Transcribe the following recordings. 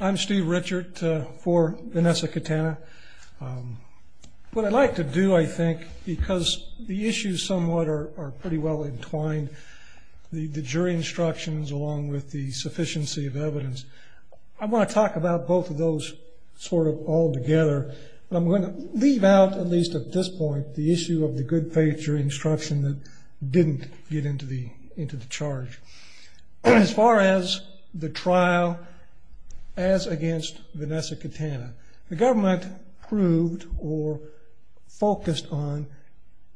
I'm Steve Richard for Vanessa Cattanea. What I'd like to do, I think, because the issues somewhat are pretty well entwined, the jury instructions along with the sufficiency of evidence, I want to talk about both of those sort of all together. I'm going to leave out, at least at this point, the issue of the good faith jury instruction that didn't get into the charge. As far as the trial as against Vanessa Cattanea, the government proved or focused on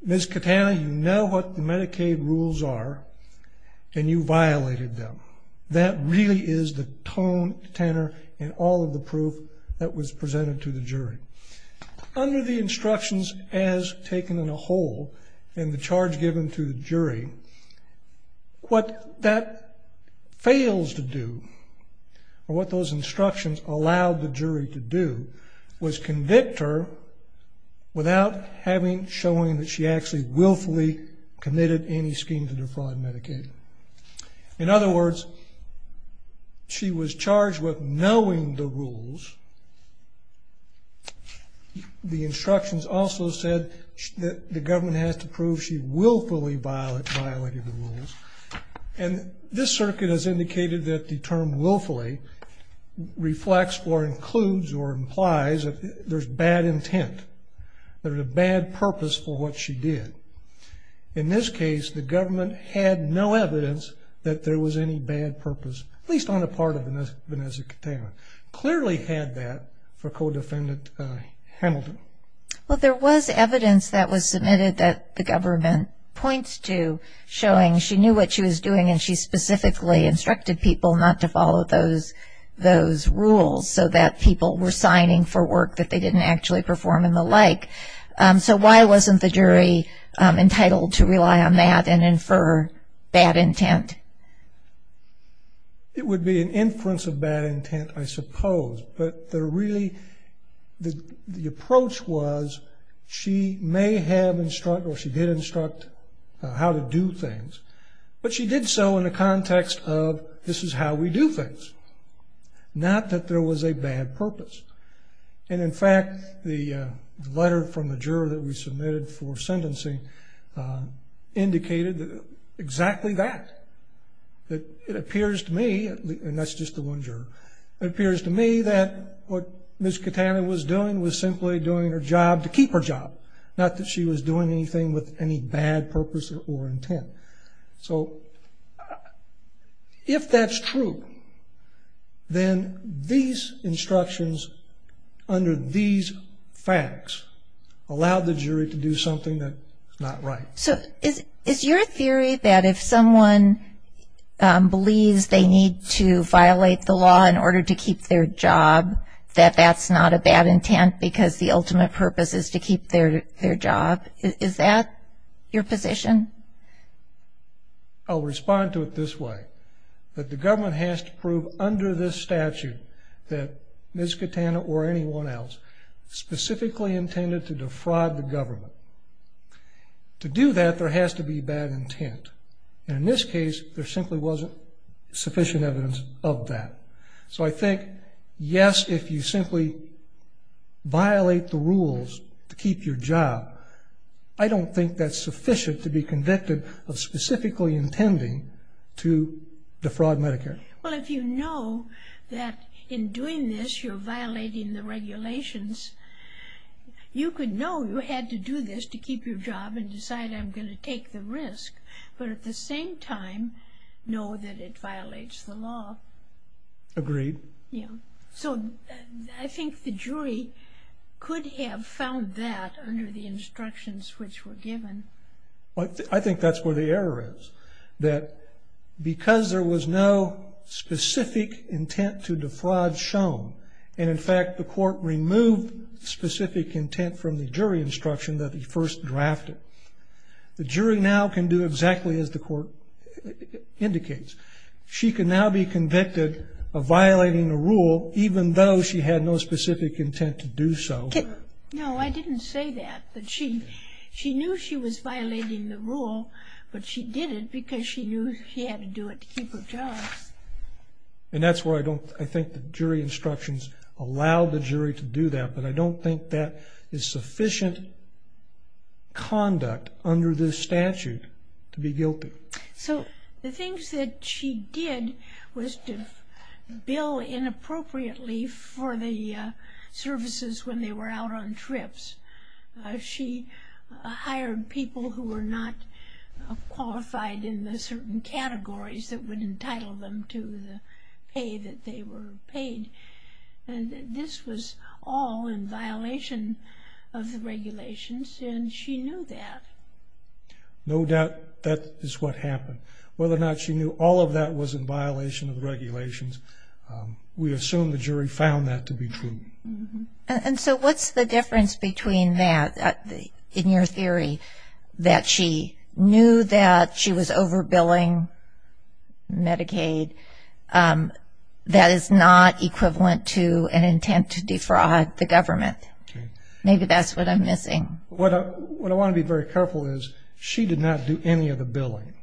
Ms. Cattanea, you know what the Medicaid rules are and you violated them. That really is the tone tenor in all of the proof that was presented to the jury. Under the instructions as taken in a whole in the charge given to the jury, what that fails to do or what those instructions allowed the jury to do was convict her without showing that she actually willfully committed any scheme to defraud Medicaid. In other words, she was charged with knowing the rules. The instructions also said that the government has to prove she willfully violated the rules. This circuit has indicated that the term willfully reflects or includes or implies that there's bad intent. There's a bad purpose for what she did. In this case, the government had no evidence that there was any bad purpose, at least on the part of Vanessa Cattanea. Clearly had that for co-defendant Hamilton. Well, there was evidence that was submitted that the government points to showing she knew what she was doing and she specifically instructed people not to follow those rules so that people were signing for work that they didn't actually perform and the like. So why wasn't the jury entitled to rely on that and infer bad intent? It would be an inference of bad intent, I suppose, but the approach was she may have instructed or she did instruct how to do things, but she did so in the context of this is how we do things, not that there was a bad purpose. And in fact, the letter from the juror that we submitted for sentencing indicated exactly that. It appears to me, and that's just the one juror, it appears to me that what Ms. Cattanea was doing was simply doing her job to keep her job, not that she was doing anything with any bad purpose or intent. So if that's true, then these instructions under these facts allow the jury to do something that's not right. So is your theory that if someone believes they need to violate the law in order to keep their job, that that's not a bad intent because the ultimate purpose is to keep their job? Is that your position? I'll respond to it this way, that the government has to prove under this statute that Ms. Cattanea or anyone else specifically intended to defraud the government. To do that, there has to be bad intent. And in this case, there simply wasn't sufficient evidence of that. So I think, yes, if you simply violate the rules to keep your job, I don't think that's sufficient to be convicted of specifically intending to defraud Medicare. Well, if you know that in doing this you're violating the regulations, you could know you had to do this to keep your job and decide I'm going to take the risk, but at the same time know that it violates the law. Agreed. So I think the jury could have found that under the instructions which were given. I think that's where the error is, that because there was no specific intent to defraud shown, and in fact the court removed specific intent from the jury instruction that he first drafted, the jury now can do exactly as the court indicates. She can now be convicted of violating the rule even though she had no specific intent to do so. No, I didn't say that. She knew she was violating the rule, but she did it because she knew she had to do it to keep her job. And that's where I think the jury instructions allowed the jury to do that, but I don't think that is sufficient conduct under this statute to be guilty. So the things that she did was to bill inappropriately for the services when they were out on trips. She hired people who were not qualified in the certain categories that would entitle them to the pay that they were paid. This was all in violation of the regulations, and she knew that. No doubt that is what happened. Whether or not she knew all of that was in violation of the regulations, we assume the jury found that to be true. And so what's the difference between that, in your theory, that she knew that she was overbilling Medicaid that is not equivalent to an intent to defraud the government? Maybe that's what I'm missing. What I want to be very careful is she did not do any of the billing.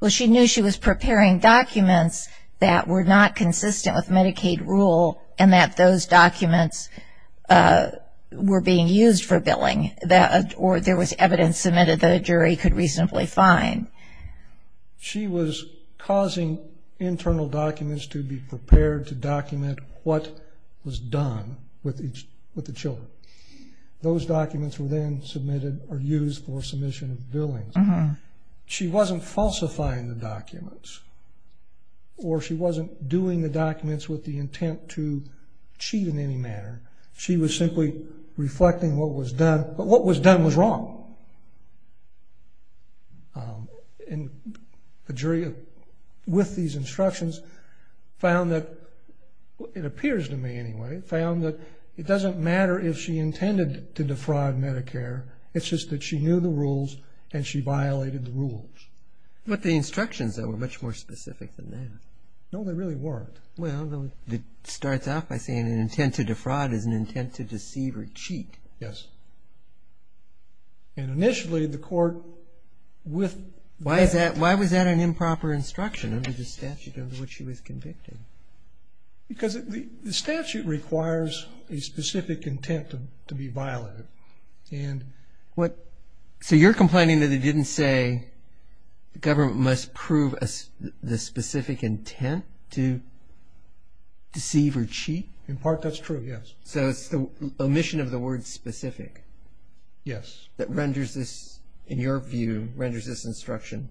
Well, she knew she was preparing documents that were not consistent with Medicaid rule and that those documents were being used for billing or there was evidence submitted that a jury could reasonably find. She was causing internal documents to be prepared to document what was done with the children. Those documents were then submitted or used for submission of billings. She wasn't falsifying the documents, or she wasn't doing the documents with the intent to cheat in any manner. She was simply reflecting what was done, but what was done was wrong. And the jury, with these instructions, found that, it appears to me anyway, found that it doesn't matter if she intended to defraud Medicare, it's just that she knew the rules and she violated the rules. But the instructions, though, were much more specific than that. No, they really weren't. Well, it starts off by saying an intent to defraud is an intent to deceive or cheat. Yes. And initially, the court with that. Why was that an improper instruction under the statute under which she was convicted? Because the statute requires a specific intent to be violated. So you're complaining that it didn't say the government must prove the specific intent to deceive or cheat? In part, that's true, yes. So it's the omission of the word specific. Yes. That renders this, in your view, renders this instruction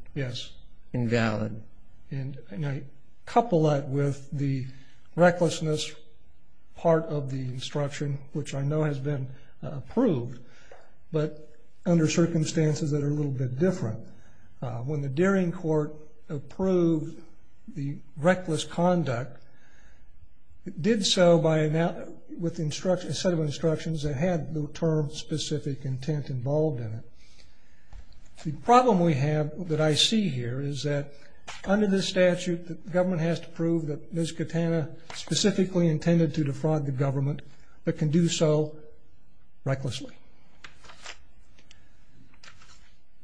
invalid. Yes. And I couple that with the recklessness part of the instruction, which I know has been approved, but under circumstances that are a little bit different. When the Deering Court approved the reckless conduct, it did so with a set of instructions that had the term specific intent involved in it. The problem we have that I see here is that under this statute, the government has to prove that Ms. Katana specifically intended to defraud the government, but can do so recklessly.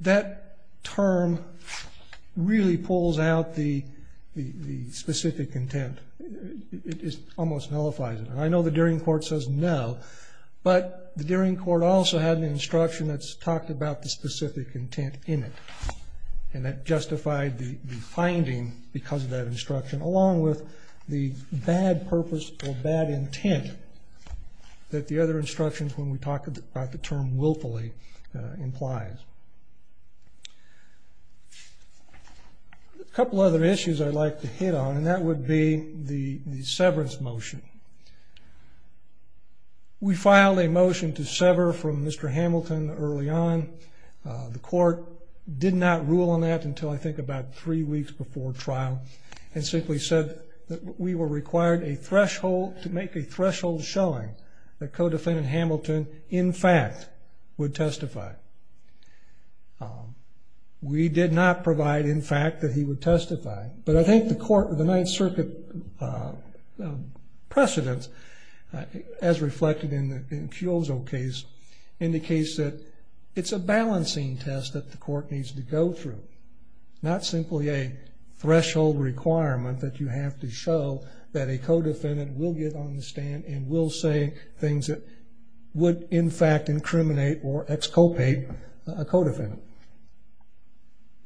That term really pulls out the specific intent. It almost nullifies it. I know the Deering Court says no, but the Deering Court also had an instruction that talked about the specific intent in it, and that justified the finding because of that instruction, along with the bad purpose or bad intent that the other instructions, when we talk about the term willfully, implies. A couple other issues I'd like to hit on, and that would be the severance motion. We filed a motion to sever from Mr. Hamilton early on. The court did not rule on that until, I think, about three weeks before trial, and simply said that we were required to make a threshold showing that co-defendant Hamilton, in fact, would testify. We did not provide, in fact, that he would testify, but I think the Ninth Circuit precedence, as reflected in Kyozo's case, indicates that it's a balancing test that the court needs to go through, not simply a threshold requirement that you have to show that a co-defendant will get on the stand and will say things that would, in fact, incriminate or exculpate a co-defendant.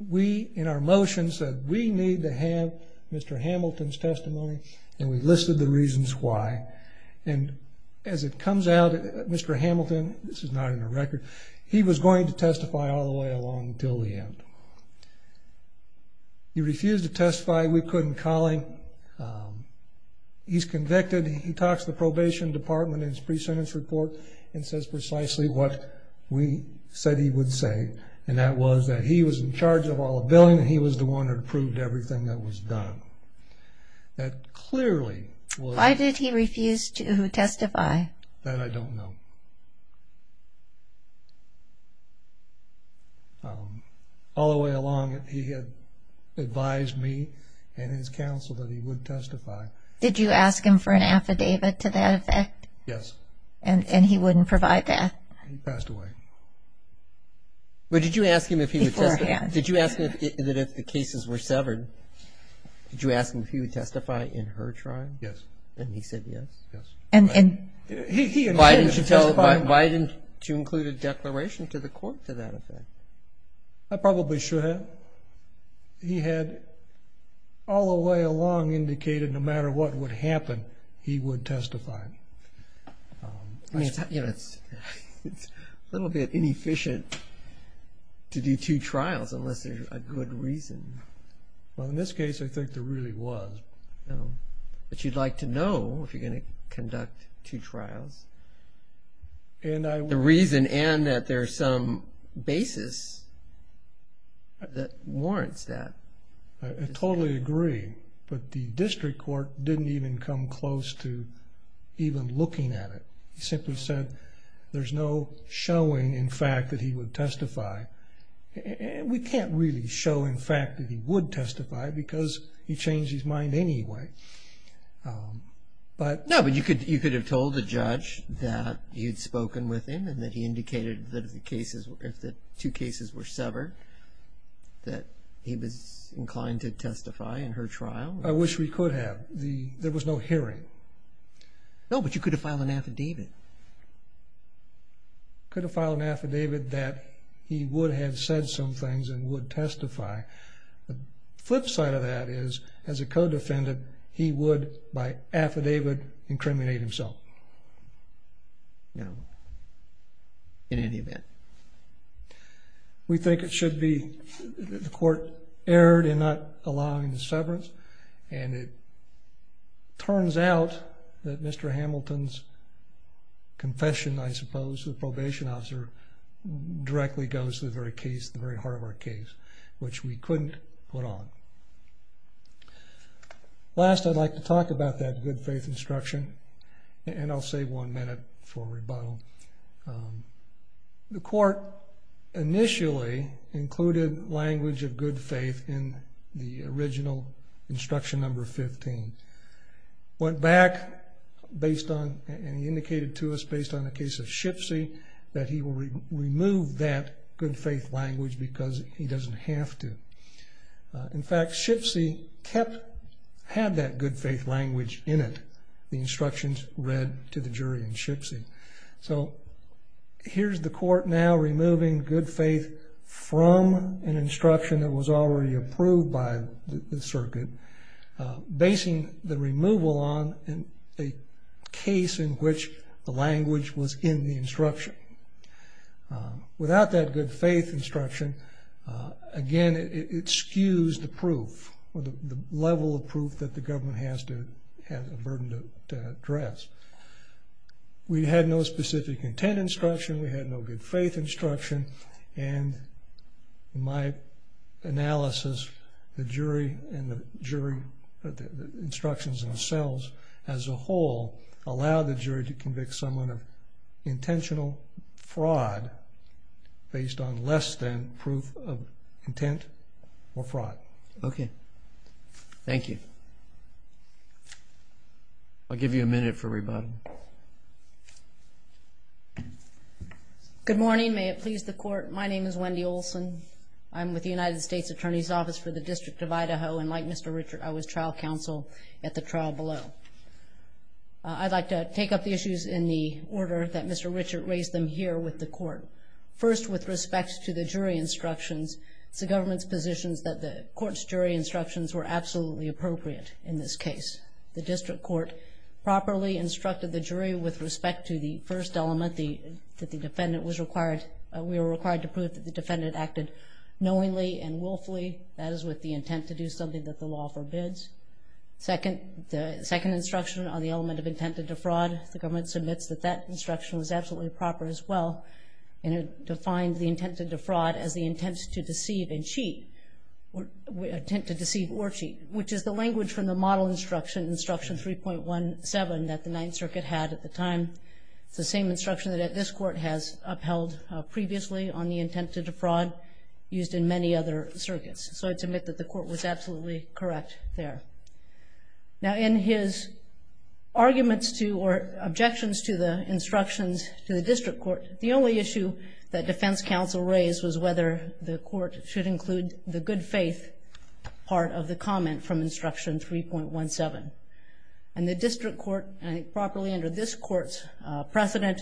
We, in our motion, said we need to have Mr. Hamilton's testimony, and we listed the reasons why. As it comes out, Mr. Hamilton, this is not in the record, he was going to testify all the way along until the end. He refused to testify. We couldn't call him. He's convicted. He talks to the probation department in his pre-sentence report and says precisely what we said he would say, and that was that he was in charge of all the billing and he was the one who approved everything that was done. That clearly was... Why did he refuse to testify? That I don't know. All the way along, he had advised me and his counsel that he would testify. Did you ask him for an affidavit to that effect? Yes. And he wouldn't provide that? He passed away. But did you ask him if he would testify? Beforehand. Did you ask him that if the cases were severed, did you ask him if he would testify in her trial? Yes. And he said yes? Yes. Why didn't you include a declaration to the court to that effect? I probably should have. He had all the way along indicated no matter what would happen, he would testify. It's a little bit inefficient to do two trials unless there's a good reason. Well, in this case, I think there really was. But you'd like to know if you're going to conduct two trials. The reason and that there's some basis that warrants that. I totally agree. But the district court didn't even come close to even looking at it. He simply said there's no showing in fact that he would testify. We can't really show in fact that he would testify because he changed his mind anyway. No, but you could have told the judge that you'd spoken with him and that he indicated that if the two cases were severed, that he was inclined to testify in her trial. I wish we could have. There was no hearing. No, but you could have filed an affidavit. Could have filed an affidavit that he would have said some things and would testify. The flip side of that is as a co-defendant, he would by affidavit incriminate himself. No, in any event. We think it should be the court erred in not allowing the severance and it turns out that Mr. Hamilton's confession, I suppose, to the probation officer directly goes to the very case, the very heart of our case, which we couldn't put on. Last, I'd like to talk about that good faith instruction and I'll save one minute for rebuttal. The court initially included language of good faith in the original instruction number 15. Went back and indicated to us based on the case of Shipsy that he will remove that good faith language because he doesn't have to. In fact, Shipsy had that good faith language in it, the instructions read to the jury in Shipsy. So here's the court now removing good faith from an instruction that was already approved by the circuit, basing the removal on a case in which the language was in the instruction. Without that good faith instruction, again, it skews the proof or the level of proof that the government has a burden to address. We had no specific intent instruction, we had no good faith instruction, and my analysis, the jury and the instructions themselves as a whole allow the jury to convict someone of intentional fraud based on less than proof of intent or fraud. Okay. Thank you. I'll give you a minute for rebuttal. Good morning. May it please the court, my name is Wendy Olson. I'm with the United States Attorney's Office for the District of Idaho, and like Mr. Richard, I was trial counsel at the trial below. I'd like to take up the issues in the order that Mr. Richard raised them here with the court. First, with respect to the jury instructions, it's the government's position that the court's jury instructions were absolutely appropriate in this case. The district court properly instructed the jury with respect to the first element that the defendant was required, we were required to prove that the defendant acted knowingly and willfully, that is with the intent to do something that the law forbids. Second, the second instruction on the element of intent to defraud, the government submits that that instruction was absolutely proper as well, and it defined the intent to defraud as the intent to deceive and cheat, intent to deceive or cheat, which is the language from the model instruction, instruction 3.17 that the Ninth Circuit had at the time. It's the same instruction that this court has upheld previously on the intent to defraud used in many other circuits. So I'd submit that the court was absolutely correct there. Now in his arguments to or objections to the instructions to the district court, the only issue that defense counsel raised was whether the court should include the good faith part of the comment from instruction 3.17. And the district court, and I think properly under this court's precedent,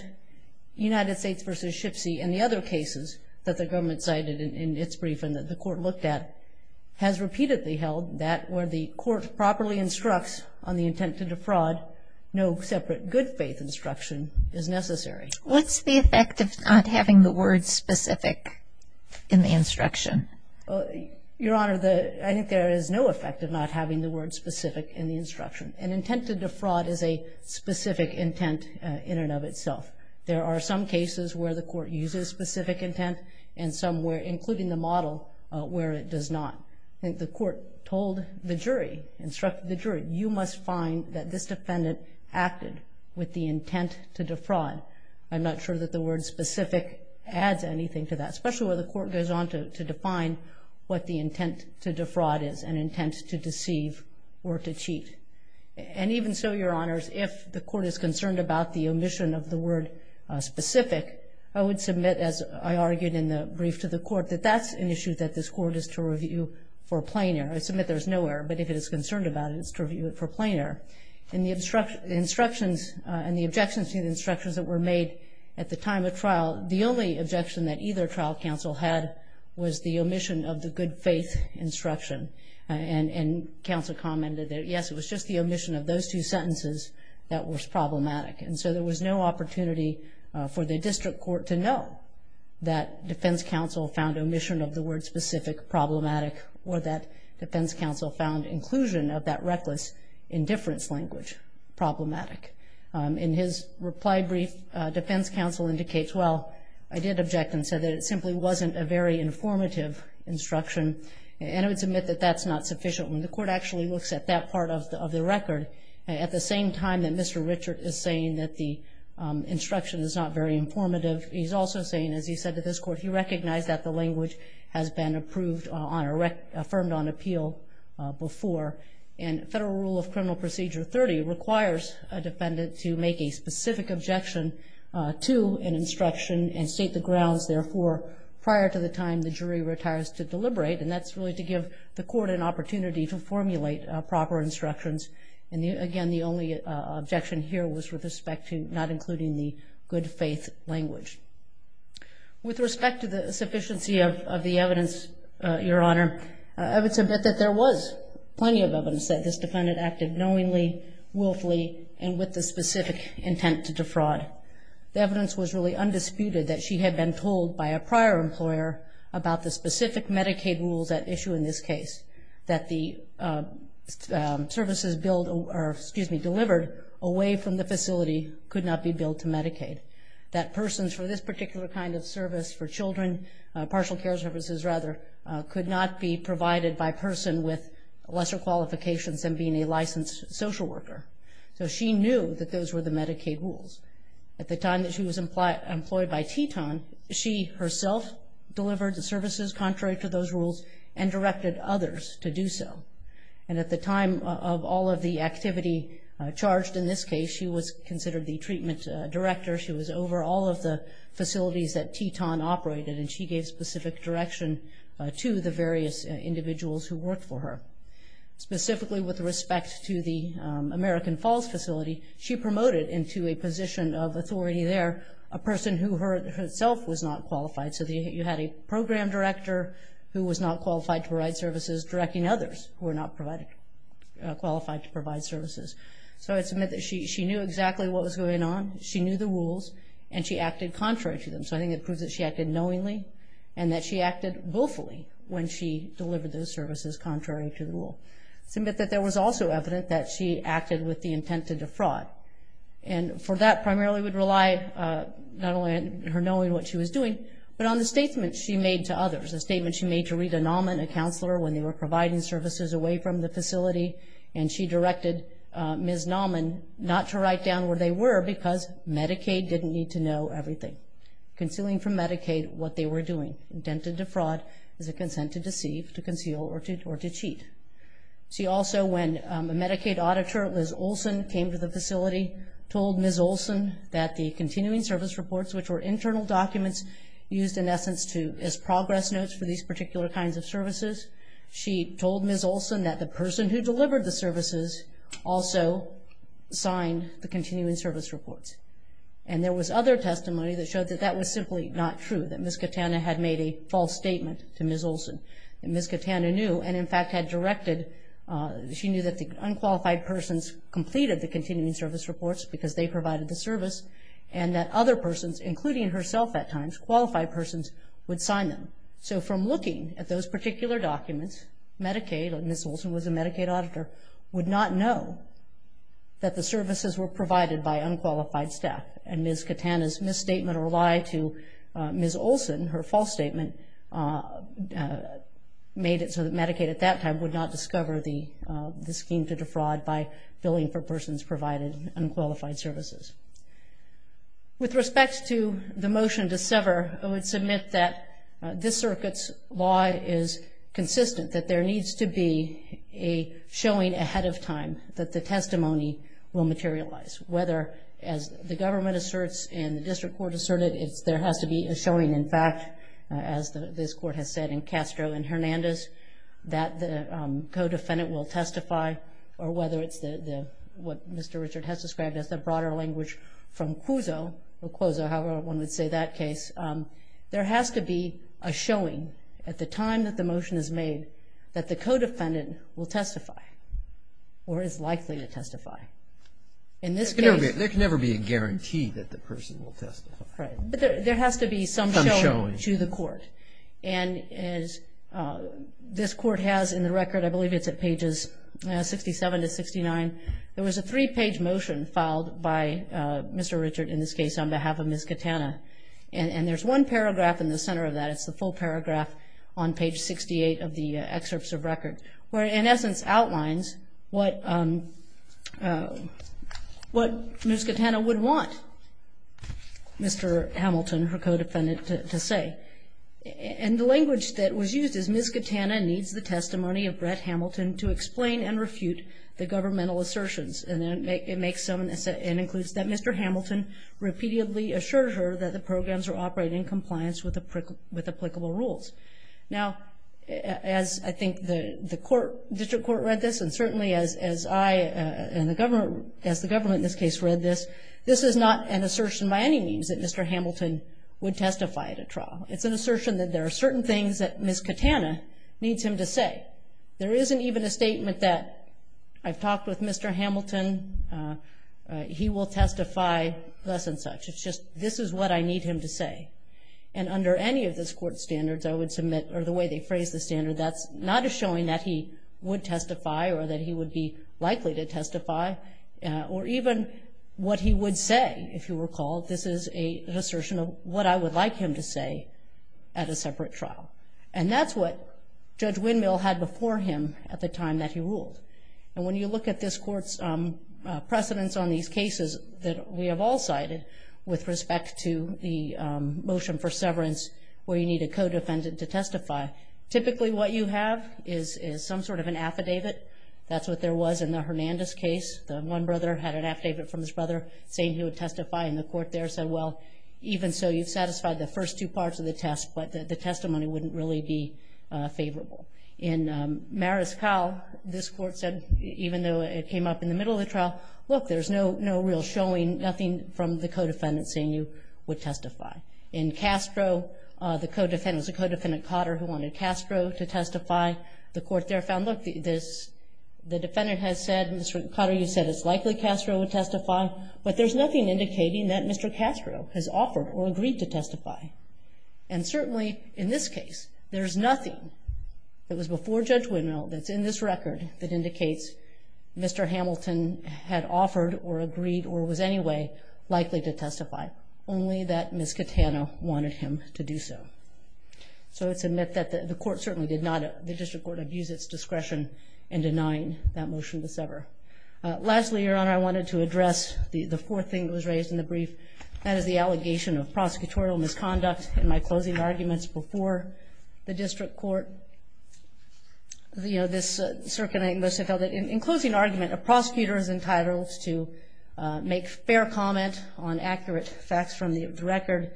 United States v. Shipsy and the other cases that the government cited in its briefing that the court looked at, has repeatedly held that where the court properly instructs on the intent to defraud, no separate good faith instruction is necessary. What's the effect of not having the word specific in the instruction? Your Honor, I think there is no effect of not having the word specific in the instruction. An intent to defraud is a specific intent in and of itself. There are some cases where the court uses specific intent and some where, including the model, where it does not. I think the court told the jury, instructed the jury, you must find that this defendant acted with the intent to defraud. I'm not sure that the word specific adds anything to that, especially where the court goes on to define what the intent to defraud is, an intent to deceive or to cheat. And even so, Your Honors, if the court is concerned about the omission of the word specific, I would submit, as I argued in the brief to the court, that that's an issue that this court is to review for plain error. I submit there's no error, but if it is concerned about it, it's to review it for plain error. In the instructions and the objections to the instructions that were made at the time of trial, the only objection that either trial counsel had was the omission of the good faith instruction. And counsel commented that, yes, it was just the omission of those two sentences that was problematic. And so there was no opportunity for the district court to know that defense counsel found omission of the word specific problematic or that defense language problematic. In his reply brief, defense counsel indicates, well, I did object and said that it simply wasn't a very informative instruction. And I would submit that that's not sufficient. When the court actually looks at that part of the record, at the same time that Mr. Richard is saying that the instruction is not very informative, he's also saying, as he said to this court, he recognized that the language has been approved on, affirmed on appeal before. And federal rule of criminal procedure 30 requires a defendant to make a specific objection to an instruction and state the grounds, therefore, prior to the time the jury retires to deliberate. And that's really to give the court an opportunity to formulate proper instructions. And, again, the only objection here was with respect to not including the good faith language. With respect to the sufficiency of the evidence, Your Honor, I would submit that there was plenty of evidence that this defendant acted knowingly, willfully, and with the specific intent to defraud. The evidence was really undisputed that she had been told by a prior employer about the specific Medicaid rules at issue in this case, that the services billed or, excuse me, delivered away from the facility could not be billed to Medicaid, that persons for this particular kind of service for children, partial care services rather, could not be provided by person with lesser qualifications than being a licensed social worker. So she knew that those were the Medicaid rules. At the time that she was employed by Teton, she herself delivered the services contrary to those rules and directed others to do so. And at the time of all of the activity charged in this case, she was considered the treatment director. She was over all of the facilities that Teton operated, and she gave specific direction to the various individuals who worked for her. Specifically with respect to the American Falls facility, she promoted into a position of authority there a person who herself was not qualified. So you had a program director who was not qualified to provide services directing others who were not qualified to provide services. So I'd submit that she knew exactly what was going on. She knew the rules, and she acted contrary to them. So I think it proves that she acted knowingly and that she acted willfully when she delivered those services contrary to the rule. I submit that there was also evidence that she acted with the intent to defraud. And for that primarily would rely not only on her knowing what she was doing, but on the statement she made to others, the statement she made to Rita Nauman, a counselor when they were providing services away from the facility, and she directed Ms. Nauman not to write down where they were because Medicaid didn't need to know everything. Concealing from Medicaid what they were doing, intent to defraud is a consent to deceive, to conceal, or to cheat. She also, when a Medicaid auditor, Liz Olson, came to the facility told Ms. Olson that the continuing service reports, which were internal documents used in essence as progress notes for these particular kinds of services, she told Ms. Olson that the person who delivered the services also signed the continuing service reports. And there was other testimony that showed that that was simply not true, that Ms. Katana had made a false statement to Ms. Olson. Ms. Katana knew and, in fact, had directed, she knew that the unqualified persons completed the continuing service reports because they provided the service, and that other persons, including herself at times, qualified persons, would sign them. So from looking at those particular documents, Medicaid, and Ms. Olson was a Medicaid auditor, would not know that the services were provided by unqualified staff. And Ms. Katana's misstatement or lie to Ms. Olson, her false statement, made it so that Medicaid at that time would not discover the scheme to defraud by billing for persons provided unqualified services. With respect to the motion to sever, I would submit that this circuit's law is consistent, that there needs to be a showing ahead of time that the testimony will materialize, whether, as the government asserts and the district court asserted, there has to be a showing, in fact, as this court has said in Castro and Hernandez, that the co-defendant will testify, or whether it's what Mr. Richard has described as the broader language from Cuozo, however one would say that case, there has to be a showing at the time that the motion is made that the co-defendant will testify or is likely to testify. In this case… There can never be a guarantee that the person will testify. Right. But there has to be some showing to the court. And as this court has in the record, I believe it's at pages 67 to 69, there was a three-page motion filed by Mr. Richard in this case on behalf of Ms. Katana. And there's one paragraph in the center of that, it's the full paragraph on page 68 of the excerpts of record, where in essence outlines what Ms. Katana would want Mr. Hamilton, her co-defendant, to say. And the language that was used is, Ms. Katana needs the testimony of Brett Hamilton to explain and refute the governmental assertions. And it includes that Mr. Hamilton repeatedly assured her that the programs are operating in compliance with applicable rules. Now, as I think the district court read this, and certainly as I and the government in this case read this, this is not an assertion by any means that Mr. Hamilton would testify at a trial. It's an assertion that there are certain things that Ms. Katana needs him to say. There isn't even a statement that I've talked with Mr. Hamilton, he will testify thus and such. It's just this is what I need him to say. And under any of this court's standards, I would submit or the way they phrase the standard, that's not a showing that he would testify or that he would be likely to testify. He would say, if you recall, this is an assertion of what I would like him to say at a separate trial. And that's what Judge Windmill had before him at the time that he ruled. And when you look at this court's precedence on these cases that we have all cited with respect to the motion for severance, where you need a co-defendant to testify, typically what you have is some sort of an affidavit. That's what there was in the Hernandez case. The one brother had an affidavit from his brother saying he would testify, and the court there said, well, even so you've satisfied the first two parts of the test, but the testimony wouldn't really be favorable. In Mariscal, this court said, even though it came up in the middle of the trial, look, there's no real showing, nothing from the co-defendant saying you would testify. In Castro, the co-defendant was a co-defendant, Cotter, who wanted Castro to testify. The court there found, look, the defendant has said, Mr. Cotter, you said it's likely Castro would testify, but there's nothing indicating that Mr. Castro has offered or agreed to testify. And certainly in this case, there's nothing, it was before Judge Winnell that's in this record that indicates Mr. Hamilton had offered or agreed or was anyway likely to testify, only that Ms. Catano wanted him to do so. So it's a myth that the court certainly did not, that the district court abused its discretion in denying that motion to sever. Lastly, Your Honor, I wanted to address the fourth thing that was raised in the brief. That is the allegation of prosecutorial misconduct in my closing arguments before the district court. You know, this circuit, I think most have held it, in closing argument, a prosecutor is entitled to make fair comment on accurate facts from the record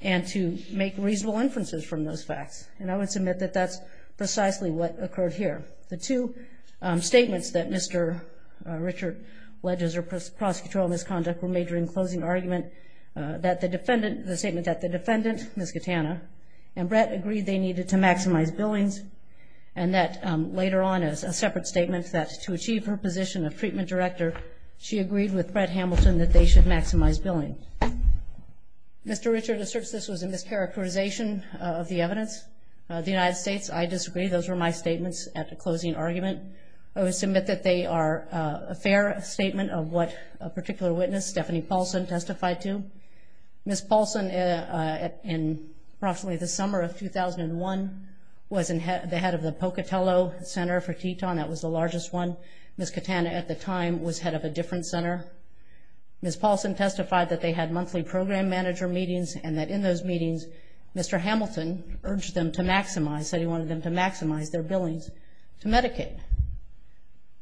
and to make reasonable inferences from those facts. And I would submit that that's precisely what occurred here. The two statements that Mr. Richard led as a prosecutorial misconduct were made during closing argument, the statement that the defendant, Ms. Catano, and Brett agreed they needed to maximize billings and that later on as a separate statement that to achieve her position of treatment director, she agreed with Brett Hamilton that they should maximize billing. Mr. Richard asserts this was a mischaracterization of the evidence. The United States, I disagree. Those were my statements at the closing argument. I would submit that they are a fair statement of what a particular witness, Stephanie Paulson, testified to. Ms. Paulson, in approximately the summer of 2001, was the head of the Pocatello Center for Teton. That was the largest one. Ms. Catano at the time was head of a different center. Ms. Paulson testified that they had monthly program manager meetings and that in those meetings, Mr. Hamilton urged them to maximize, said he wanted them to maximize their billings to Medicaid.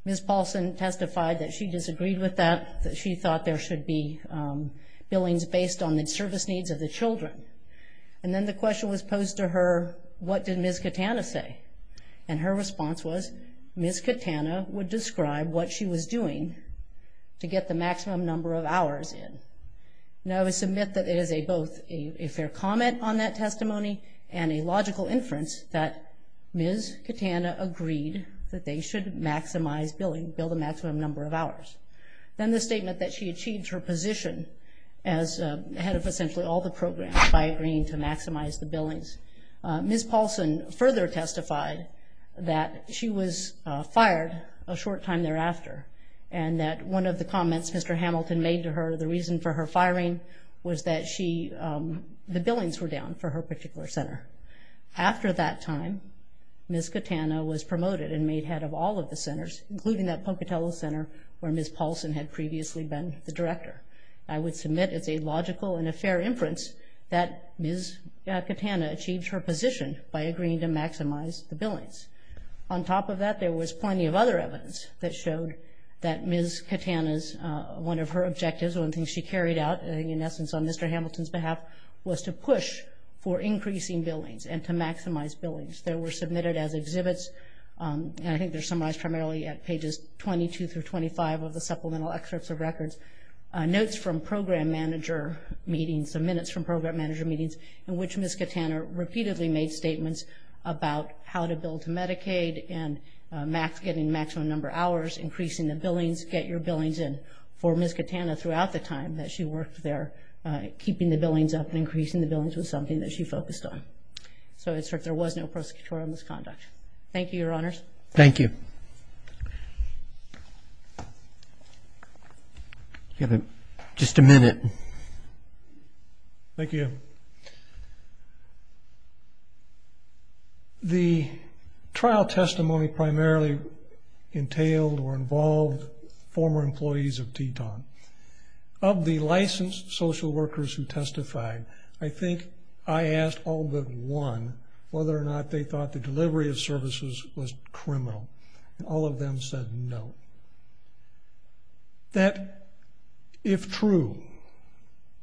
Ms. Paulson testified that she disagreed with that, that she thought there should be billings based on the service needs of the children. And then the question was posed to her, what did Ms. Catano say? And her response was Ms. Catano would describe what she was doing to get the maximum number of hours in. Now, I would submit that it is both a fair comment on that testimony and a logical inference that Ms. Catano agreed that they should maximize billing, build a maximum number of hours. Then the statement that she achieved her position as head of essentially all the programs by agreeing to maximize the billings. Ms. Paulson further testified that she was fired a short time thereafter and that one of the comments Mr. Hamilton made to her, the reason for her firing was that the billings were down for her particular center. After that time, Ms. Catano was promoted and made head of all of the centers, including that Pocatello Center where Ms. Paulson had previously been the director. I would submit it's a logical and a fair inference that Ms. Catano achieved her position by agreeing to maximize the billings. On top of that, there was plenty of other evidence that showed that Ms. Catano's, one of her objectives, one of the things she carried out, in essence on Mr. Hamilton's behalf, was to push for increasing billings and to maximize billings. They were submitted as exhibits, and I think they're summarized primarily at pages 22 through 25 of the supplemental excerpts of records. Notes from program manager meetings, the minutes from program manager meetings in which Ms. Catano repeatedly made statements about how to bill to Medicaid and getting maximum number of hours, increasing the billings, get your billings in, for Ms. Catano throughout the time that she worked there, keeping the billings up and increasing the billings was something that she focused on. So there was no prosecutorial misconduct. Thank you, Your Honors. Thank you. You have just a minute. Thank you. The trial testimony primarily entailed or involved former employees of Teton. Of the licensed social workers who testified, I think I asked all but one whether or not they thought the delivery of services was criminal. All of them said no. That, if true,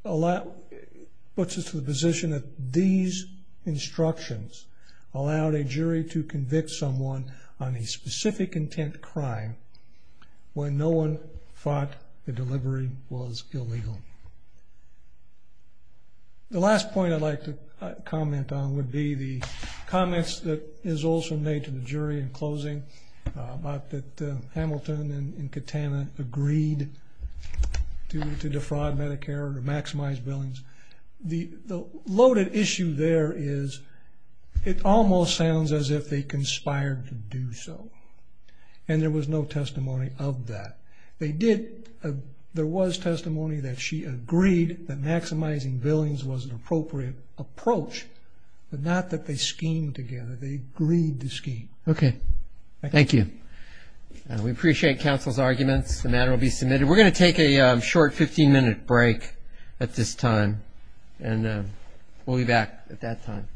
puts us to the position that these instructions allowed a jury to convict someone on a specific intent crime when no one thought the delivery was illegal. The last point I'd like to comment on would be the comments that is also made to the jury in closing about that Hamilton and Catano agreed to defraud Medicare or maximize billings. The loaded issue there is it almost sounds as if they conspired to do so, and there was no testimony of that. There was testimony that she agreed that maximizing billings was an appropriate approach, but not that they schemed together. They agreed to scheme. Okay. Thank you. We appreciate counsel's arguments. The matter will be submitted. We're going to take a short 15-minute break at this time, and we'll be back at that time. All rise.